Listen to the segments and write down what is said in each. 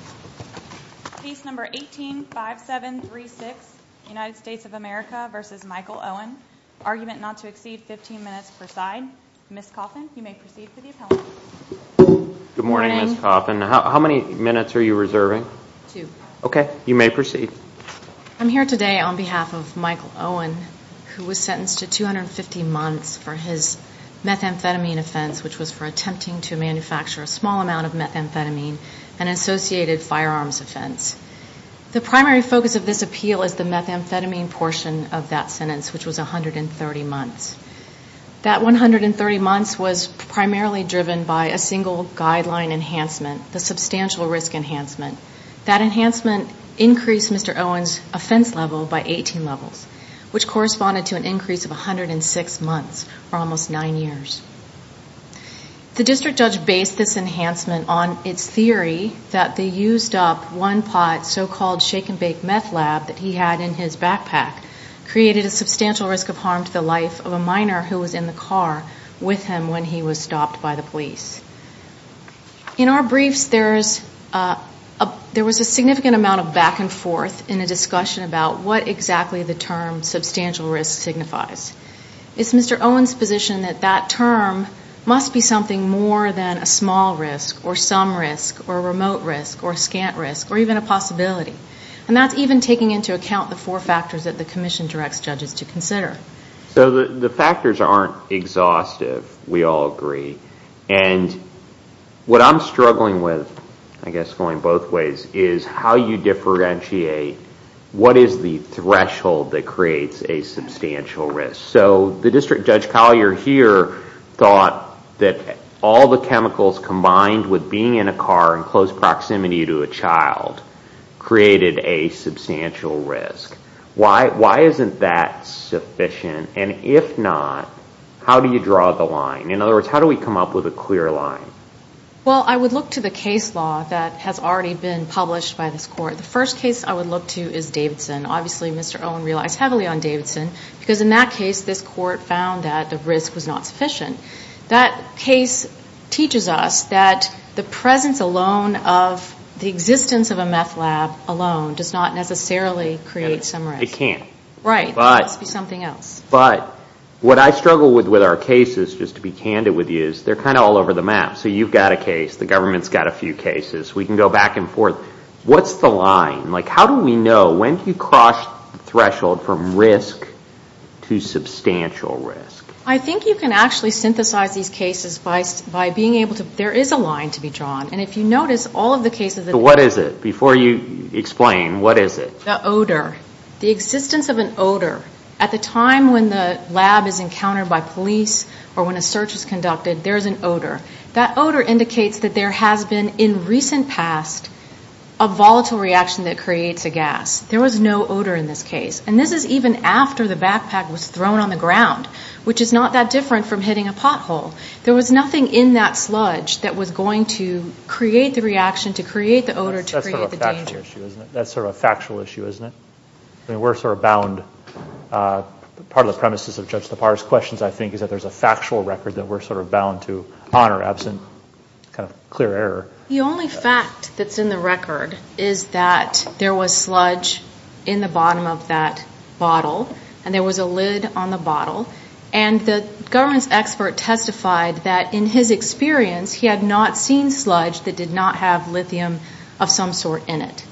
I'm here today on behalf of Michael Owen who was sentenced to 250 months for his methamphetamine offense which was for attempting to manufacture a small amount of methamphetamine and associated firearms offense. The primary focus of this appeal is the methamphetamine portion of that sentence which was 130 months. That 130 months was primarily driven by a single guideline enhancement, the substantial risk enhancement. That enhancement increased Mr. Owen's offense level by 18 levels which corresponded to an increase of 106 months or almost 9 years. The district judge based this enhancement on its theory that they used up one pot so-called shake and bake meth lab that he had in his backpack created a substantial risk of harm to the life of a minor who was in the car with him when he was stopped by the police. In our briefs there was a significant amount of back and forth in a discussion about what exactly the term substantial risk signifies. It's Mr. Owen's position that that term must be something more than a small risk or some risk or a remote risk or a scant risk or even a possibility. And that's even taking into account the four factors that the commission directs judges to consider. So the factors aren't exhaustive, we all agree. And what I'm struggling with, I guess going both ways, is how you differentiate what is the threshold that creates a substantial risk. So the district judge Collier here thought that all the chemicals combined with being in a car in close proximity to a child created a substantial risk. Why isn't that sufficient? And if not, how do you draw the line? In other words, how do we come up with a clear line? Well, I would look to the case law that has already been published by this court. The first case I would look to is Davidson. Obviously Mr. Owen relies heavily on Davidson because in that case this court found that the risk was not sufficient. That case teaches us that the presence alone of the existence of a meth lab alone does not necessarily create some risk. It can't. Right. It must be something else. But what I struggle with with our case is, just to be candid with you, is they're kind of all over the map. So you've got a case, the government's got a few cases, we can go back and forth. What's the line? Like how do we know, when do you cross the threshold from risk to substantial risk? I think you can actually synthesize these cases by being able to, there is a line to be drawn. And if you notice, all of the cases that So what is it? Before you explain, what is it? The odor. The existence of an odor. At the time when the lab is encountered by police or when a search is conducted, there is an odor. That odor indicates that there has been in recent past a volatile reaction that creates a gas. There was no odor in this case. And this is even after the backpack was thrown on the ground, which is not that different from hitting a pothole. There was nothing in that sludge that was going to create the reaction to create the odor to create the danger. That's sort of a factual issue, isn't it? We're sort of bound, part of the premises of Judge Tappara's questions, I think, is that there's a factual record that we're sort of bound to honor absent kind of clear error. The only fact that's in the record is that there was sludge in the bottom of that bottle and there was a lid on the bottle. And the government's expert testified that in his experience he had not seen sludge that did not have lithium of some sort in it.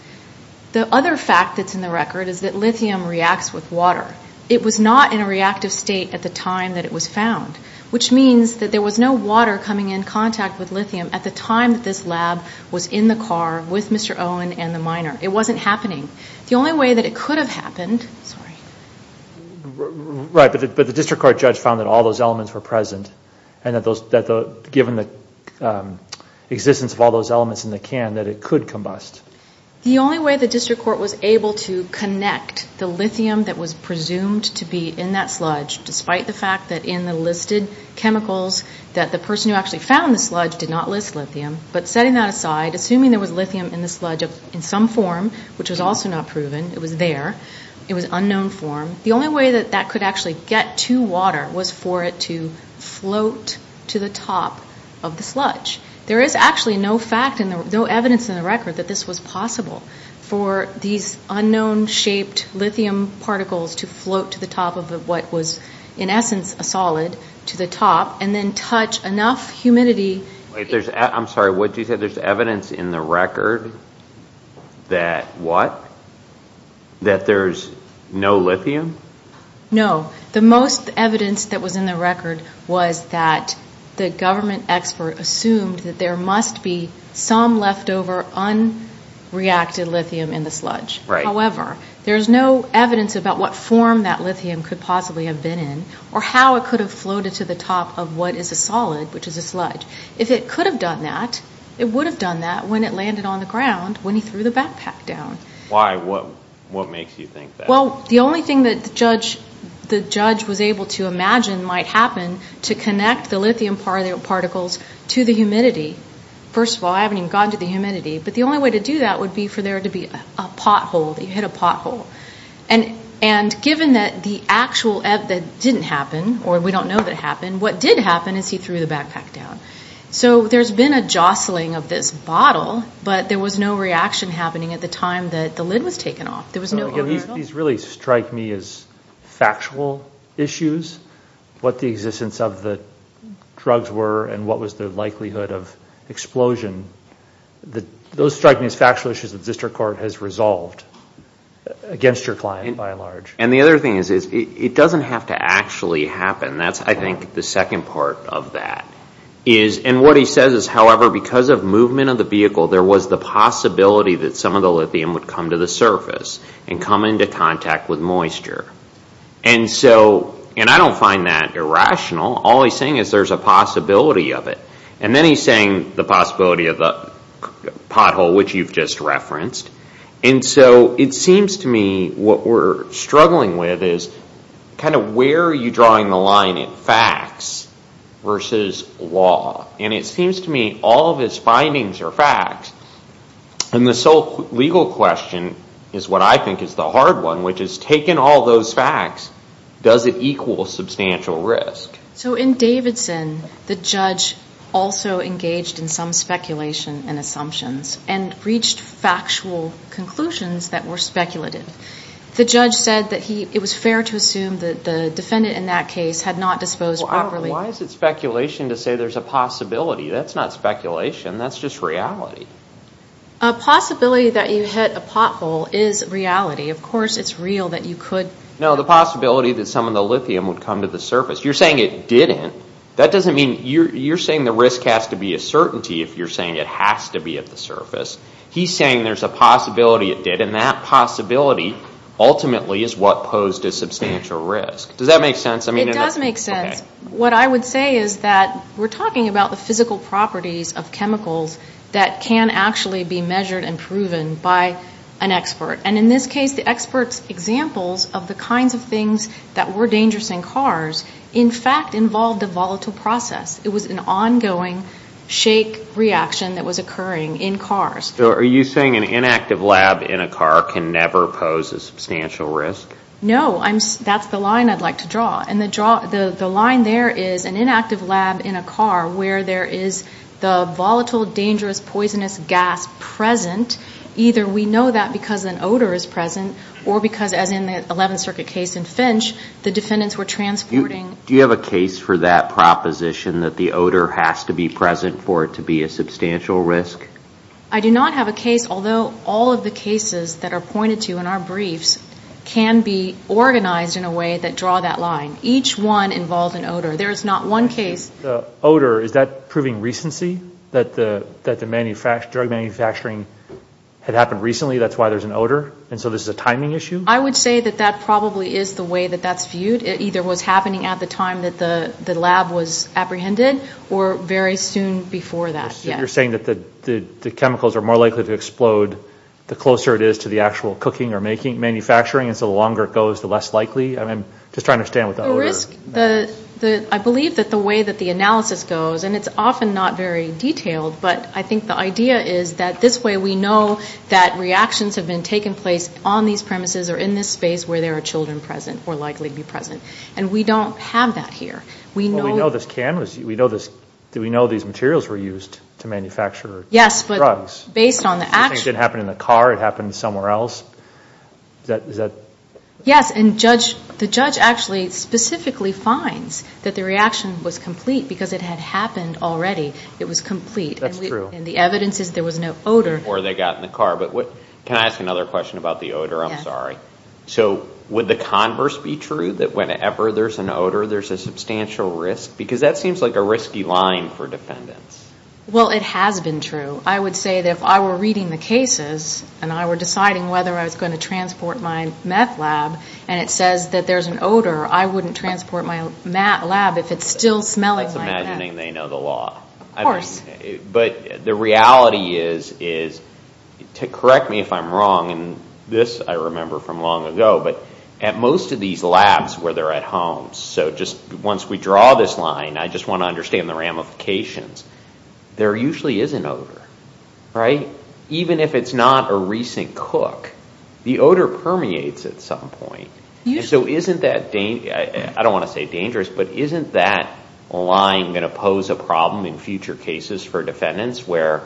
The other fact that's in the record is that lithium reacts with water. It was not in a reactive state at the time that it was found, which means that there was no water coming in contact with lithium at the time that this lab was in the car with Mr. Owen and the miner. It wasn't happening. The only way that it could have happened, sorry. Right, but the district court judge found that all those elements were present and that given the existence of all those elements in the can, that it could combust. The only way the district court was able to connect the lithium that was presumed to be in that sludge, despite the fact that in the listed chemicals that the person who actually found the sludge did not list lithium, but setting that aside, assuming there was lithium in the sludge in some form, which was also not proven, it was there, it was unknown form, the only way that that could actually get to water was for it to float to the top of the sludge. There is actually no fact and no evidence in the record that this was possible for these elements, what was in essence a solid, to the top and then touch enough humidity. I'm sorry, what did you say? There's evidence in the record that what? That there's no lithium? No. The most evidence that was in the record was that the government expert assumed that there must be some leftover unreacted lithium in the sludge. Right. There's no leftover. There's no evidence about what form that lithium could possibly have been in or how it could have floated to the top of what is a solid, which is a sludge. If it could have done that, it would have done that when it landed on the ground when he threw the backpack down. Why? What makes you think that? Well, the only thing that the judge was able to imagine might happen to connect the lithium particles to the humidity. First of all, I haven't even gotten to the humidity, but the pothole. And given that the actual, that didn't happen, or we don't know that it happened, what did happen is he threw the backpack down. So there's been a jostling of this bottle, but there was no reaction happening at the time that the lid was taken off. There was no... These really strike me as factual issues, what the existence of the drugs were and what was the likelihood of explosion. Those strike me as factual issues that the district court has resolved against your client by and large. And the other thing is, it doesn't have to actually happen. That's, I think, the second part of that. And what he says is, however, because of movement of the vehicle, there was the possibility that some of the lithium would come to the surface and come into contact with moisture. And I don't find that irrational. All he's saying is there's a possibility of it. And then he's saying the possibility of the pothole, which you've just referenced. And so it seems to me what we're struggling with is kind of where are you drawing the line in facts versus law? And it seems to me all of his findings are facts. And the sole legal question is what I think is the hard one, which is taken all those facts, does it equal substantial risk? So in Davidson, the judge also engaged in some speculation and assumptions and reached factual conclusions that were speculative. The judge said that it was fair to assume that the defendant in that case had not disposed properly. Well, why is it speculation to say there's a possibility? That's not speculation. That's just reality. A possibility that you hit a pothole is reality. Of course, it's real that you could. No, the possibility that some of the lithium would come to the surface. You're saying it didn't. That doesn't mean you're saying the risk has to be a certainty if you're saying it has to be at the surface. He's saying there's a possibility it did. And that possibility ultimately is what posed a substantial risk. Does that make sense? It does make sense. What I would say is that we're talking about the physical properties of chemicals that can actually be measured and proven by an expert. And in this case, the expert's examples of the kinds of things that were dangerous in cars, in fact, involved a volatile process. It was an ongoing shake reaction that was occurring in cars. Are you saying an inactive lab in a car can never pose a substantial risk? No. That's the line I'd like to draw. And the line there is an inactive lab in a car where there is the volatile, dangerous, poisonous gas present. Either we know that because an accident or because, as in the 11th Circuit case in Finch, the defendants were transporting Do you have a case for that proposition that the odor has to be present for it to be a substantial risk? I do not have a case, although all of the cases that are pointed to in our briefs can be organized in a way that draw that line. Each one involved an odor. There is not one case The odor, is that proving recency? That the drug manufacturing had happened recently, that's why there's an odor? And so this is a timing issue? I would say that that probably is the way that that's viewed. It either was happening at the time that the lab was apprehended or very soon before that. You're saying that the chemicals are more likely to explode the closer it is to the actual cooking or manufacturing, and so the longer it goes, the less likely? I'm just trying to understand what the odor The risk, I believe that the way that the analysis goes, and it's often not very detailed, but I think the idea is that this way we know that reactions have been taking place on these premises or in this space where there are children present, or likely to be present. And we don't have that here. We know this can, we know these materials were used to manufacture drugs. Yes, but based on the actual It didn't happen in the car, it happened somewhere else? Yes, and the judge actually specifically finds that the reaction was complete because it And the evidence is there was no odor Before they got in the car, but can I ask another question about the odor? I'm sorry. So would the converse be true, that whenever there's an odor there's a substantial risk? Because that seems like a risky line for defendants. Well it has been true. I would say that if I were reading the cases and I were deciding whether I was going to transport my meth lab and it says that there's an odor, I wouldn't transport my lab if it's still smelling like meth. That's imagining they know the law. Of course. But the reality is, correct me if I'm wrong, and this I remember from long ago, but at most of these labs where they're at home, so just once we draw this line, I just want to understand the ramifications, there usually is an odor, right? Even if it's not a recent cook, the odor permeates at some point. So isn't that, I don't want to say dangerous, but isn't that line going to pose a problem in future cases for defendants where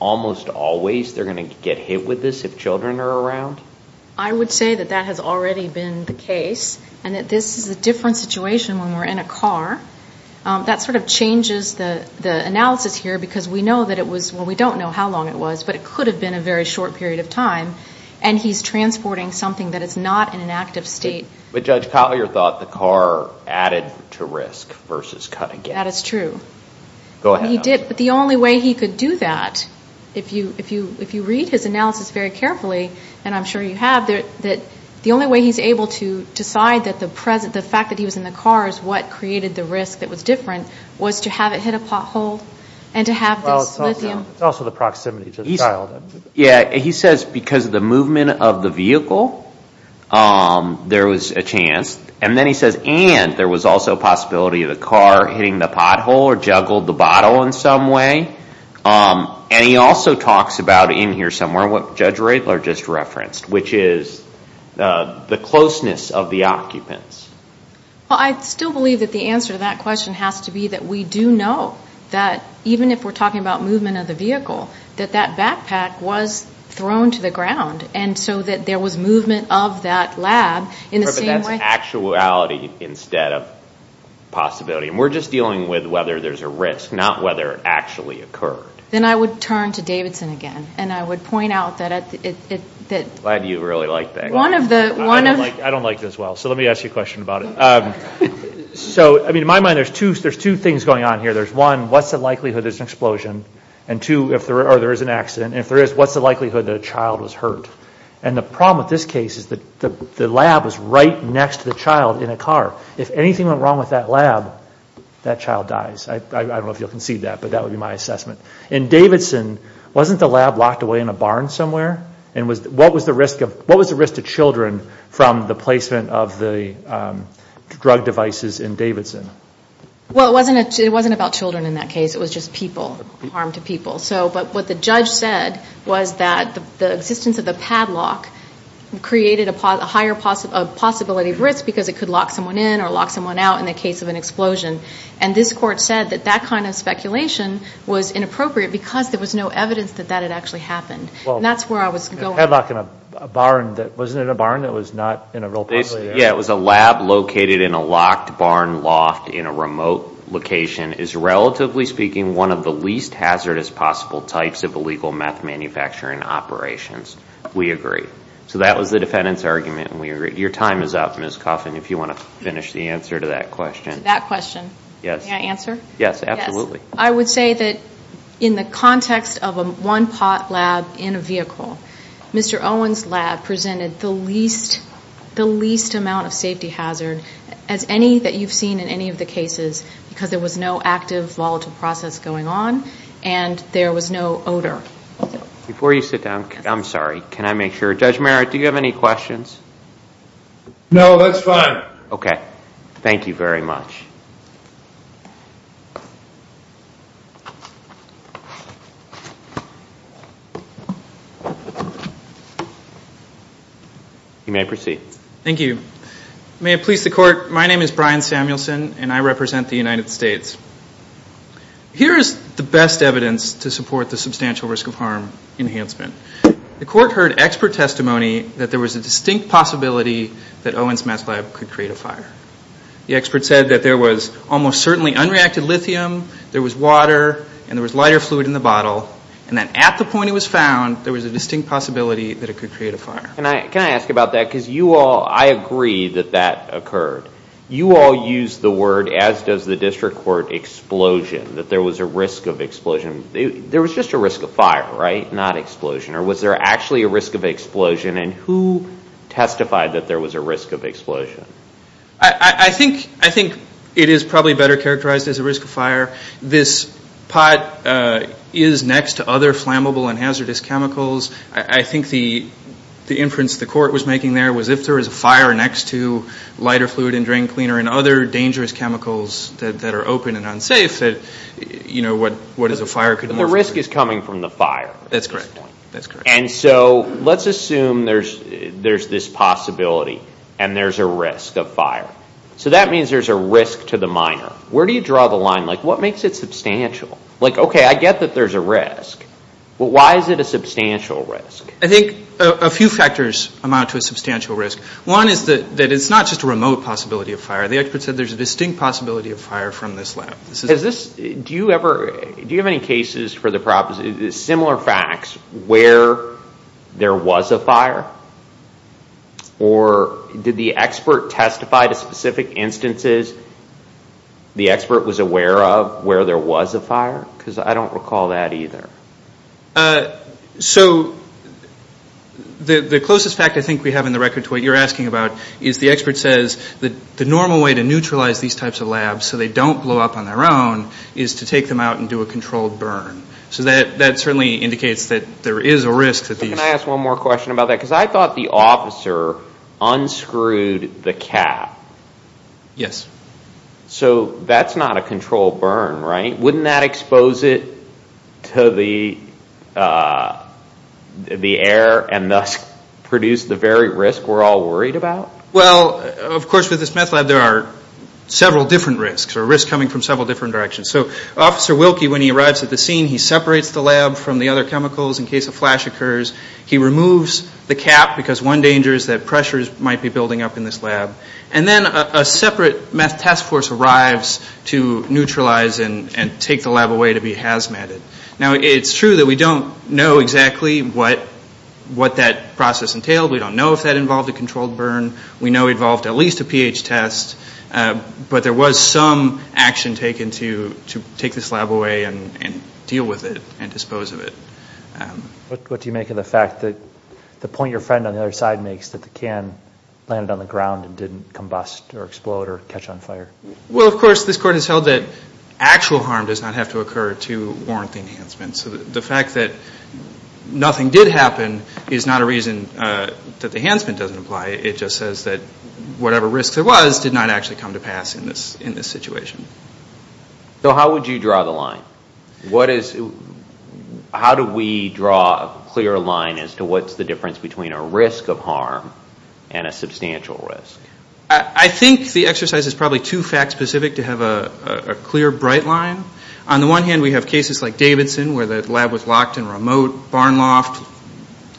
almost always they're going to get hit with this if children are around? I would say that that has already been the case and that this is a different situation when we're in a car. That sort of changes the analysis here because we know that it was, well we don't know how long it was, but it could have been a very short period of time and he's transporting something that is not in an active state. But Judge Collier thought the car added to risk versus cut again. That is true. Go ahead. He did, but the only way he could do that, if you read his analysis very carefully, and I'm sure you have, that the only way he's able to decide that the fact that he was in the car is what created the risk that was different was to have it hit a pothole and to have this lithium. Well, it's also the proximity to the child. Yeah, he says because of the movement of the vehicle, there was a chance, and then he says there was also a possibility of the car hitting the pothole or juggled the bottle in some way. And he also talks about in here somewhere, what Judge Radler just referenced, which is the closeness of the occupants. Well, I still believe that the answer to that question has to be that we do know that even if we're talking about movement of the vehicle, that that backpack was thrown to the ground and so that there was movement of that lab in the same way. Actuality instead of possibility, and we're just dealing with whether there's a risk, not whether it actually occurred. Then I would turn to Davidson again, and I would point out that it, that... I'm glad you really like that. One of the, one of... I don't like this well, so let me ask you a question about it. So I mean, in my mind, there's two things going on here. There's one, what's the likelihood there's an explosion? And two, if there is an accident, and if there is, what's the likelihood that a child was hurt? And the problem with this case is that the lab was right next to the child in a car. If anything went wrong with that lab, that child dies. I don't know if you'll concede that, but that would be my assessment. In Davidson, wasn't the lab locked away in a barn somewhere? And what was the risk of, what was the risk to children from the placement of the drug devices in Davidson? Well, it wasn't, it wasn't about children in that case. It was just people, harm to people. So, but what the judge said was that the existence of the padlock created a higher possibility of risk because it could lock someone in or lock someone out in the case of an explosion. And this court said that that kind of speculation was inappropriate because there was no evidence that that had actually happened. That's where I was going. Well, a padlock in a barn that, wasn't it a barn that was not in a real possibly area? Yeah, it was a lab located in a locked barn loft in a remote location is relatively speaking one of the least hazardous possible types of illegal meth manufacturing operations. We agree. So that was the defendant's argument and we agree. Your time is up, Ms. Coffin, if you want to finish the answer to that question. That question? Yes. Can I answer? Yes, absolutely. Yes. I would say that in the context of a one pot lab in a vehicle, Mr. Owen's lab presented the least, the least amount of safety hazard as any that you've seen in any of the cases because there was no active volatile process going on and there was no odor. Before you sit down, I'm sorry. Can I make sure? Judge Merritt, do you have any questions? No, that's fine. Okay. Thank you very much. You may proceed. Thank you. May it please the court, my name is Brian Samuelson and I represent the United States. Here is the best evidence to support the substantial risk of harm enhancement. The court heard expert testimony that there was a distinct possibility that Owen's meth lab could create a fire. The expert said that there was almost certainly unreacted lithium, there was water and there was lighter fluid in the bottle and then at the point it was found, there was a distinct possibility that it could create a fire. Can I ask about that? Because you all, I agree that that occurred. You all used the word, as does the district court, explosion, that there was a risk of explosion. There was just a risk of fire, right? Not explosion. Or was there actually a risk of explosion and who testified that there was a risk of explosion? I think it is probably better characterized as a risk of fire. This pot is next to other flammable and hazardous chemicals. I think the inference the court was making there was if there was a fire next to lighter fluid and drain cleaner and other dangerous chemicals that are open and unsafe, you know, what is a fire could be? The risk is coming from the fire. That's correct. And so let's assume there's this possibility and there's a risk of fire. So that means there's a risk to the miner. Where do you draw the line? Like what makes it substantial? Like okay, I get that there's a risk. But why is it a substantial risk? I think a few factors amount to a substantial risk. One is that it's not just a remote possibility of fire. The expert said there's a distinct possibility of fire from this lab. Do you have any cases for similar facts where there was a fire? Or did the expert testify to specific instances the expert was aware of where there was a fire? Because I don't recall that either. Uh, so the closest fact I think we have in the record to what you're asking about is the expert says the normal way to neutralize these types of labs so they don't blow up on their own is to take them out and do a controlled burn. So that certainly indicates that there is a risk. Can I ask one more question about that? Because I thought the officer unscrewed the cap. Yes. So that's not a controlled burn, right? Wouldn't that expose it to the air and thus produce the very risk we're all worried about? Well, of course, with this meth lab there are several different risks or risks coming from several different directions. So Officer Wilkie, when he arrives at the scene, he separates the lab from the other chemicals in case a flash occurs. He removes the cap because one danger is that pressures might be building up in this lab. And then a separate meth task force arrives to neutralize and take the lab away to be hazmatted. Now, it's true that we don't know exactly what that process entailed. We don't know if that involved a controlled burn. We know it involved at least a pH test. But there was some action taken to take this lab away and deal with it and dispose of it. What do you make of the fact that the point your friend on the other side makes that the combust or explode or catch on fire? Well, of course, this court has held that actual harm does not have to occur to warrant the enhancement. So the fact that nothing did happen is not a reason that the enhancement doesn't apply. It just says that whatever risk there was did not actually come to pass in this situation. So how would you draw the line? How do we draw a clear line as to what's the difference between a risk of harm and a substantial risk? I think the exercise is probably too fact specific to have a clear, bright line. On the one hand, we have cases like Davidson where the lab was locked in a remote barn loft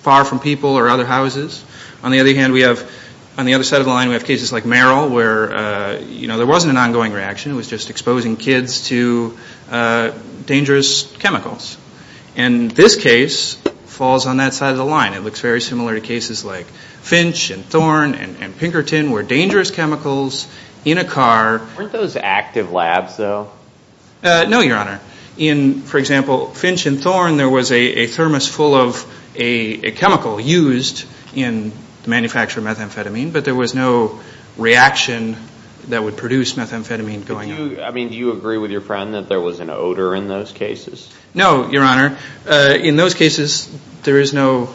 far from people or other houses. On the other hand, we have on the other side of the line, we have cases like Merrill where there wasn't an ongoing reaction. It was just exposing kids to dangerous chemicals. And this case falls on that side of the line. It looks very similar to cases like Finch and Thorne and Pinkerton where dangerous chemicals in a car. Weren't those active labs, though? No, Your Honor. In, for example, Finch and Thorne, there was a thermos full of a chemical used in the manufacture of methamphetamine, but there was no reaction that would produce methamphetamine going out. I mean, do you agree with your friend that there was an odor in those cases? No, Your Honor. In those cases, there is no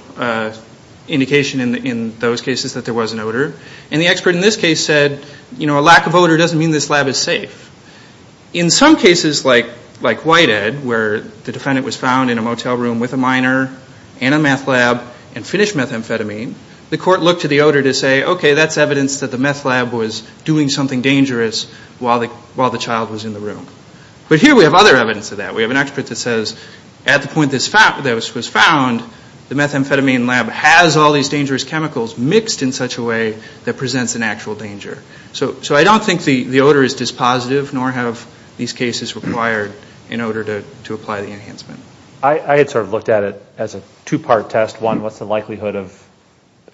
indication in those cases that there was an odor. And the expert in this case said, you know, a lack of odor doesn't mean this lab is safe. In some cases, like Whitehead, where the defendant was found in a motel room with a minor and a meth lab and finished methamphetamine, the court looked to the odor to say, okay, that's evidence that the meth lab was doing something dangerous while the child was in the room. But here we have other evidence of that. We have an expert that says at the point that this was found, the methamphetamine lab has all these dangerous chemicals mixed in such a way that presents an actual danger. So I don't think the odor is dispositive, nor have these cases required in order to apply the enhancement. I had sort of looked at it as a two-part test. One, what's the likelihood of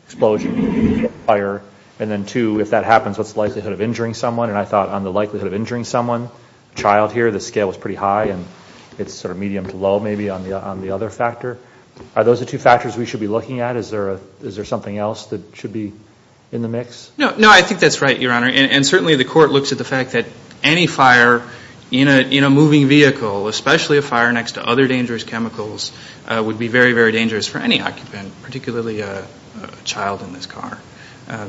explosion, fire? And then two, if that happens, what's the likelihood of injuring someone? And I thought on the likelihood of injuring someone, a child here, the scale was pretty high, and it's sort of medium to low maybe on the other factor. Are those the two factors we should be looking at? Is there something else that should be in the mix? No, I think that's right, Your Honor. And certainly the court looks at the fact that any fire in a moving vehicle, especially a fire next to other dangerous chemicals, would be very, very dangerous for any occupant, particularly a child in this car.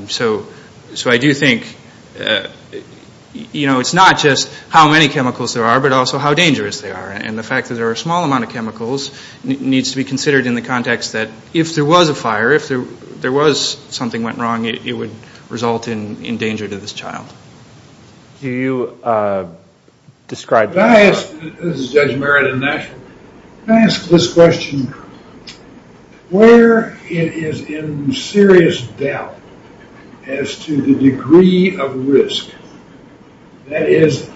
So I do think, you know, it's not just how many chemicals there are, but also how dangerous they are. And the fact that there are a small amount of chemicals needs to be considered in the context that if there was a fire, if there was something went wrong, it would result in danger to this child. Do you describe... This is Judge Merritt in Nashville. If I ask this question, where it is in serious doubt as to the degree of risk, that is,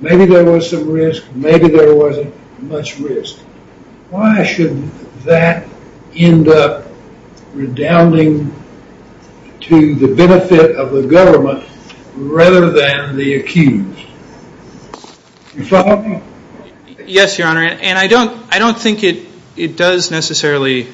maybe there was some risk, maybe there wasn't much risk, why should that end up redounding to the benefit of the government rather than the accused? Yes, Your Honor. And I don't think it does necessarily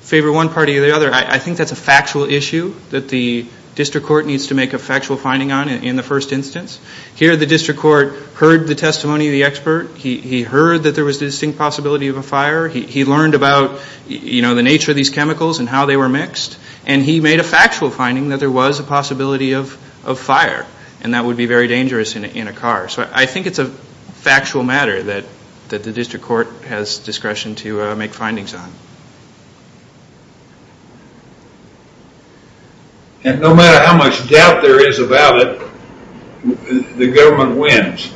favor one party or the other. I think that's a factual issue that the district court needs to make a factual finding on in the first instance. Here the district court heard the testimony of the expert. He heard that there was distinct possibility of a fire. He learned about, you know, the nature of these chemicals and how they were mixed. And he made a factual finding that there was a possibility of fire. And that would be very dangerous in a car. So I think it's a factual matter that the district court has discretion to make findings on. And no matter how much doubt there is about it, the government wins.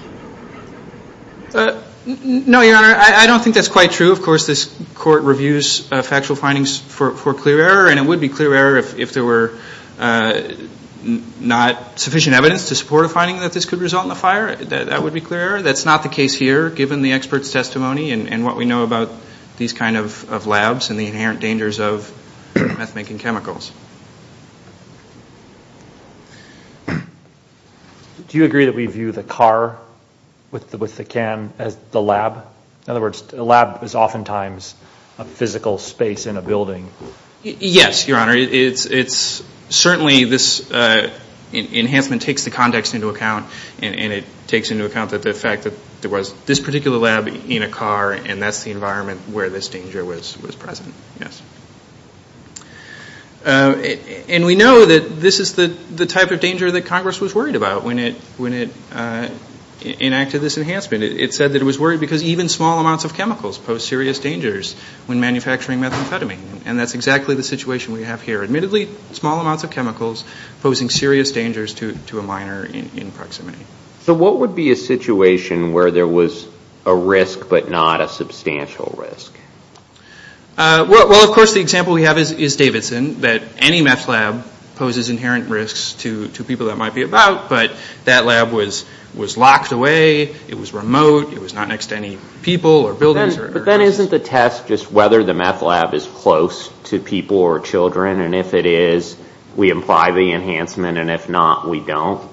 No, Your Honor. I don't think that's quite true. Of course, this court reviews factual findings for clear error. And it would be clear error if there were not sufficient evidence to support a finding that this could result in a fire. That would be clear error. That's not the case here, given the expert's testimony and what we know about these kind of labs and the inherent dangers of meth-making chemicals. Do you agree that we view the car with the can as the lab? In other words, a lab is oftentimes a physical space in a building. Yes, Your Honor. It's certainly this enhancement takes the context into account. And it takes into account that the fact that there was this particular lab in a car and that's the environment where this danger was present. Yes. And we know that this is the type of danger that Congress was worried about when it enacted this enhancement. It said that it was worried because even small amounts of chemicals pose serious dangers when manufacturing methamphetamine. And that's exactly the situation we have here. Admittedly, small amounts of chemicals posing serious dangers to a minor in proximity. So what would be a situation where there was a risk but not a substantial risk? Well, of course, the example we have is Davidson, that any meth lab poses inherent risks to people that might be about. But that lab was locked away. It was remote. It was not next to any people or buildings. But then isn't the test just whether the meth lab is close to people or children? And if it is, we imply the enhancement. And if not, we don't.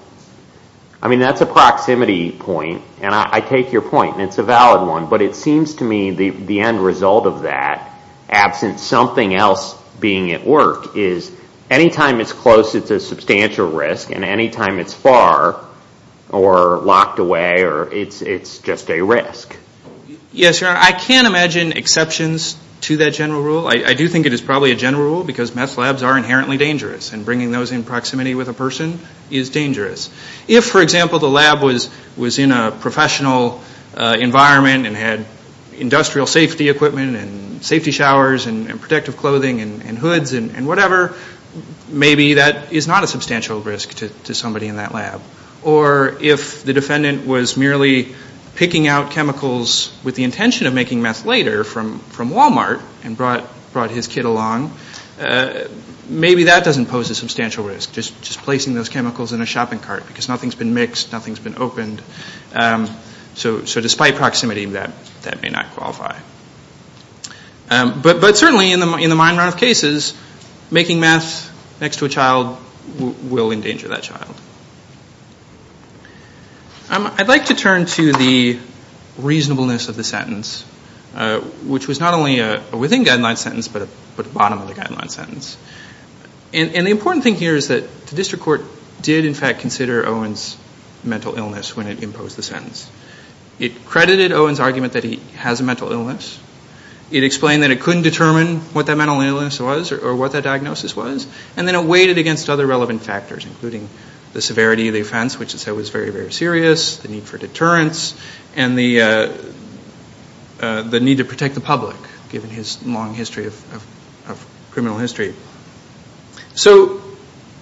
I mean, that's a proximity point. And I take your point. And it's a valid one. But it seems to me the end result of that, absent something else being at work, is anytime it's close, it's a substantial risk. And anytime it's far or locked away, it's just a risk. Yes, Your Honor. I can't imagine exceptions to that general rule. I do think it is probably a general rule because meth labs are inherently dangerous. And bringing those in proximity with a person is dangerous. If, for example, the lab was in a professional environment and had industrial safety equipment and safety showers and protective clothing and hoods and whatever, maybe that is not a substantial risk to somebody in that lab. Or if the defendant was merely picking out chemicals with the intention of making meth later from Walmart and brought his kid along, maybe that doesn't pose a substantial risk, just placing those chemicals in a shopping cart because nothing's been mixed, nothing's been opened. So despite proximity, that may not qualify. But certainly in the mine run of cases, making meth next to a child will endanger that child. I'd like to turn to the reasonableness of the sentence, which was not only a within-guidelines sentence, but a bottom-of-the-guidelines sentence. And the important thing here is that the district court did, in fact, consider Owen's mental illness when it imposed the sentence. It credited Owen's argument that he has a mental illness, it explained that it couldn't determine what that mental illness was or what that diagnosis was, and then it weighed it against other relevant factors, including the severity of the offense, which it said was very, very serious, the need for deterrence, and the need to protect the public, given his long history of criminal history. So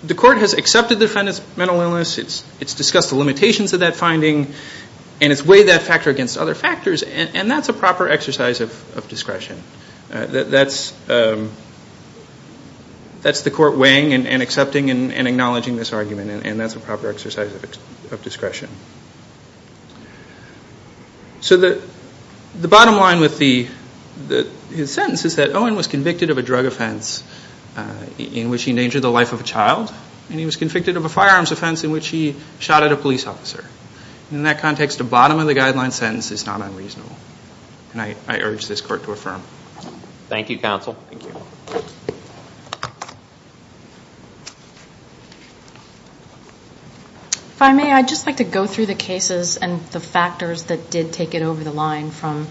the court has accepted the defendant's mental illness, it's discussed the limitations of that finding, and it's weighed that factor against other factors, and that's a proper exercise of discretion. That's the court weighing and accepting and acknowledging this argument, and that's a proper exercise of discretion. So the bottom line with his sentence is that Owen was convicted of a drug offense in which he endangered the life of a child, and he was convicted of a firearms offense in which he shot at a police officer. In that context, the bottom of the guideline sentence is not unreasonable, and I urge this court to affirm. Thank you, counsel. If I may, I'd just like to go through the cases and the factors that did take it over the line from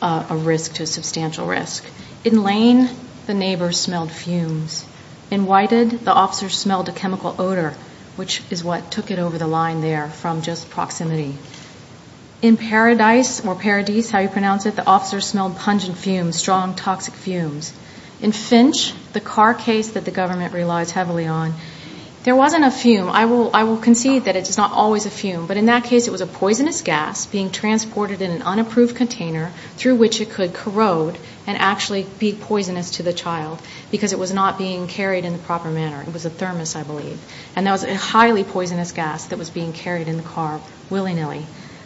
a risk to a substantial risk. In Lane, the neighbors smelled fumes. In Whited, the officers smelled a chemical odor, which is what took it over the line there from just proximity. In Paradis, or Paradis, how you pronounce it, the officers smelled pungent fumes, strong toxic fumes. In Finch, the car case that the government relies heavily on, there wasn't a fume. I will concede that it is not always a fume, but in that case, it was a poisonous gas being transported in an unapproved container through which it could corrode and actually be poisonous to the child because it was not being carried in the proper manner. It was a thermos, I believe, and that was a highly poisonous gas that was being carried in the car willy-nilly.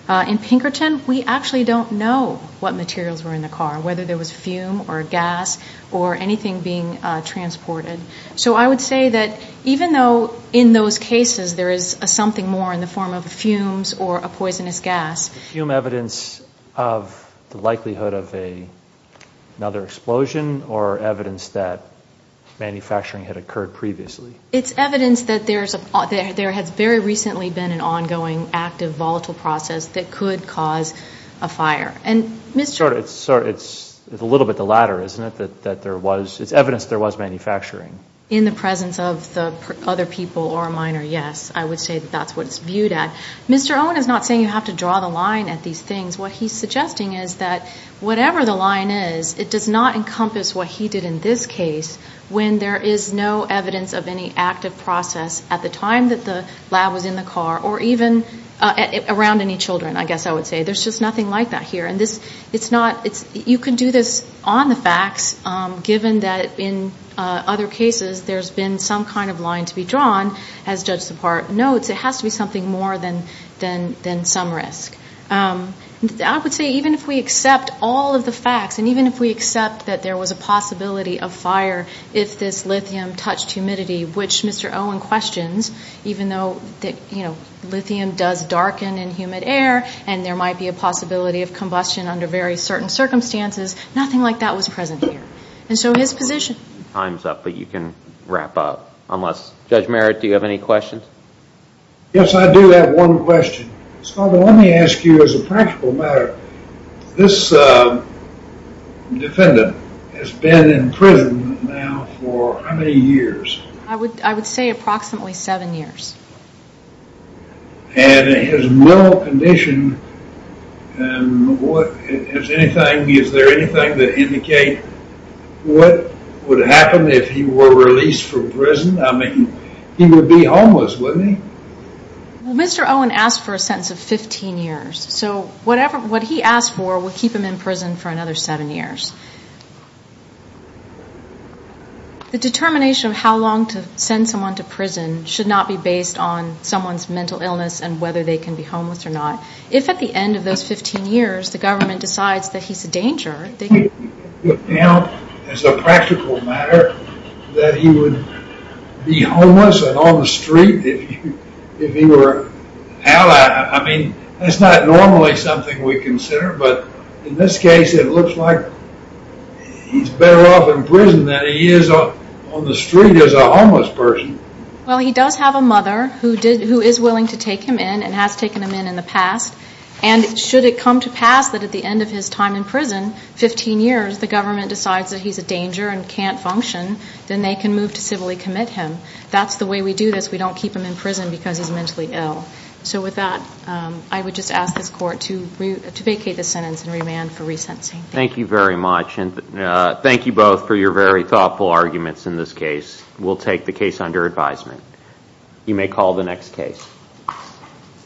In Pinkerton, we actually don't know what materials were in the car, whether there was a fume or a gas or anything being transported. So I would say that even though in those cases there is something more in the form of fumes or a poisonous gas. Fume evidence of the likelihood of another explosion or evidence that manufacturing had occurred previously? It's evidence that there has very recently been an ongoing active volatile process that could cause a fire. And Mr. Sorry, it's a little bit the latter, isn't it? That there was, it's evidence there was manufacturing. In the presence of the other people or a minor, yes. I would say that that's what it's viewed at. Mr. Owen is not saying you have to draw the line at these things. What he's suggesting is that whatever the line is, it does not encompass what he did in this case when there is no evidence of any active process at the time that the lab was in the car or even around any children, I guess I would say. There's just nothing like that here. And this, it's not, it's, you could do this on the facts given that in other cases, there's been some kind of line to be drawn. As Judge Sephard notes, it has to be something more than some risk. I would say even if we accept all of the facts and even if we accept that there was a possibility of fire if this lithium touched humidity, which Mr. Owen questions, even though lithium does darken in humid air and there might be a possibility of combustion under very certain circumstances, nothing like that was present here. And so his position. Time's up, but you can wrap up unless, Judge Merritt, do you have any questions? Yes, I do have one question. So let me ask you as a practical matter, this defendant has been in prison now for how many years? I would, I would say approximately seven years. And his mental condition and what, is anything, is there anything that indicate what would happen if he were released from prison? I mean, he would be homeless, wouldn't he? Well, Mr. Owen asked for a sentence of 15 years. So whatever, what he asked for, would keep him in prison for another seven years. The determination of how long to send someone to prison should not be based on someone's mental illness and whether they can be homeless or not. If at the end of those 15 years, the government decides that he's a danger, as a practical matter, that he would be homeless and on the street if he were out, I mean, that's not normally something we consider. But in this case, it looks like he's better off in prison than he is on the street as a homeless person. Well, he does have a mother who is willing to take him in and has taken him in in the past. And should it come to pass that at the end of his time in prison, 15 years, the government decides that he's a danger and can't function, then they can move to civilly commit him. That's the way we do this. We don't keep him in prison because he's mentally ill. So with that, I would just ask this court to vacate the sentence and remand for resentencing. Thank you very much. And thank you both for your very thoughtful arguments in this case. We'll take the case under advisement. You may call the next case.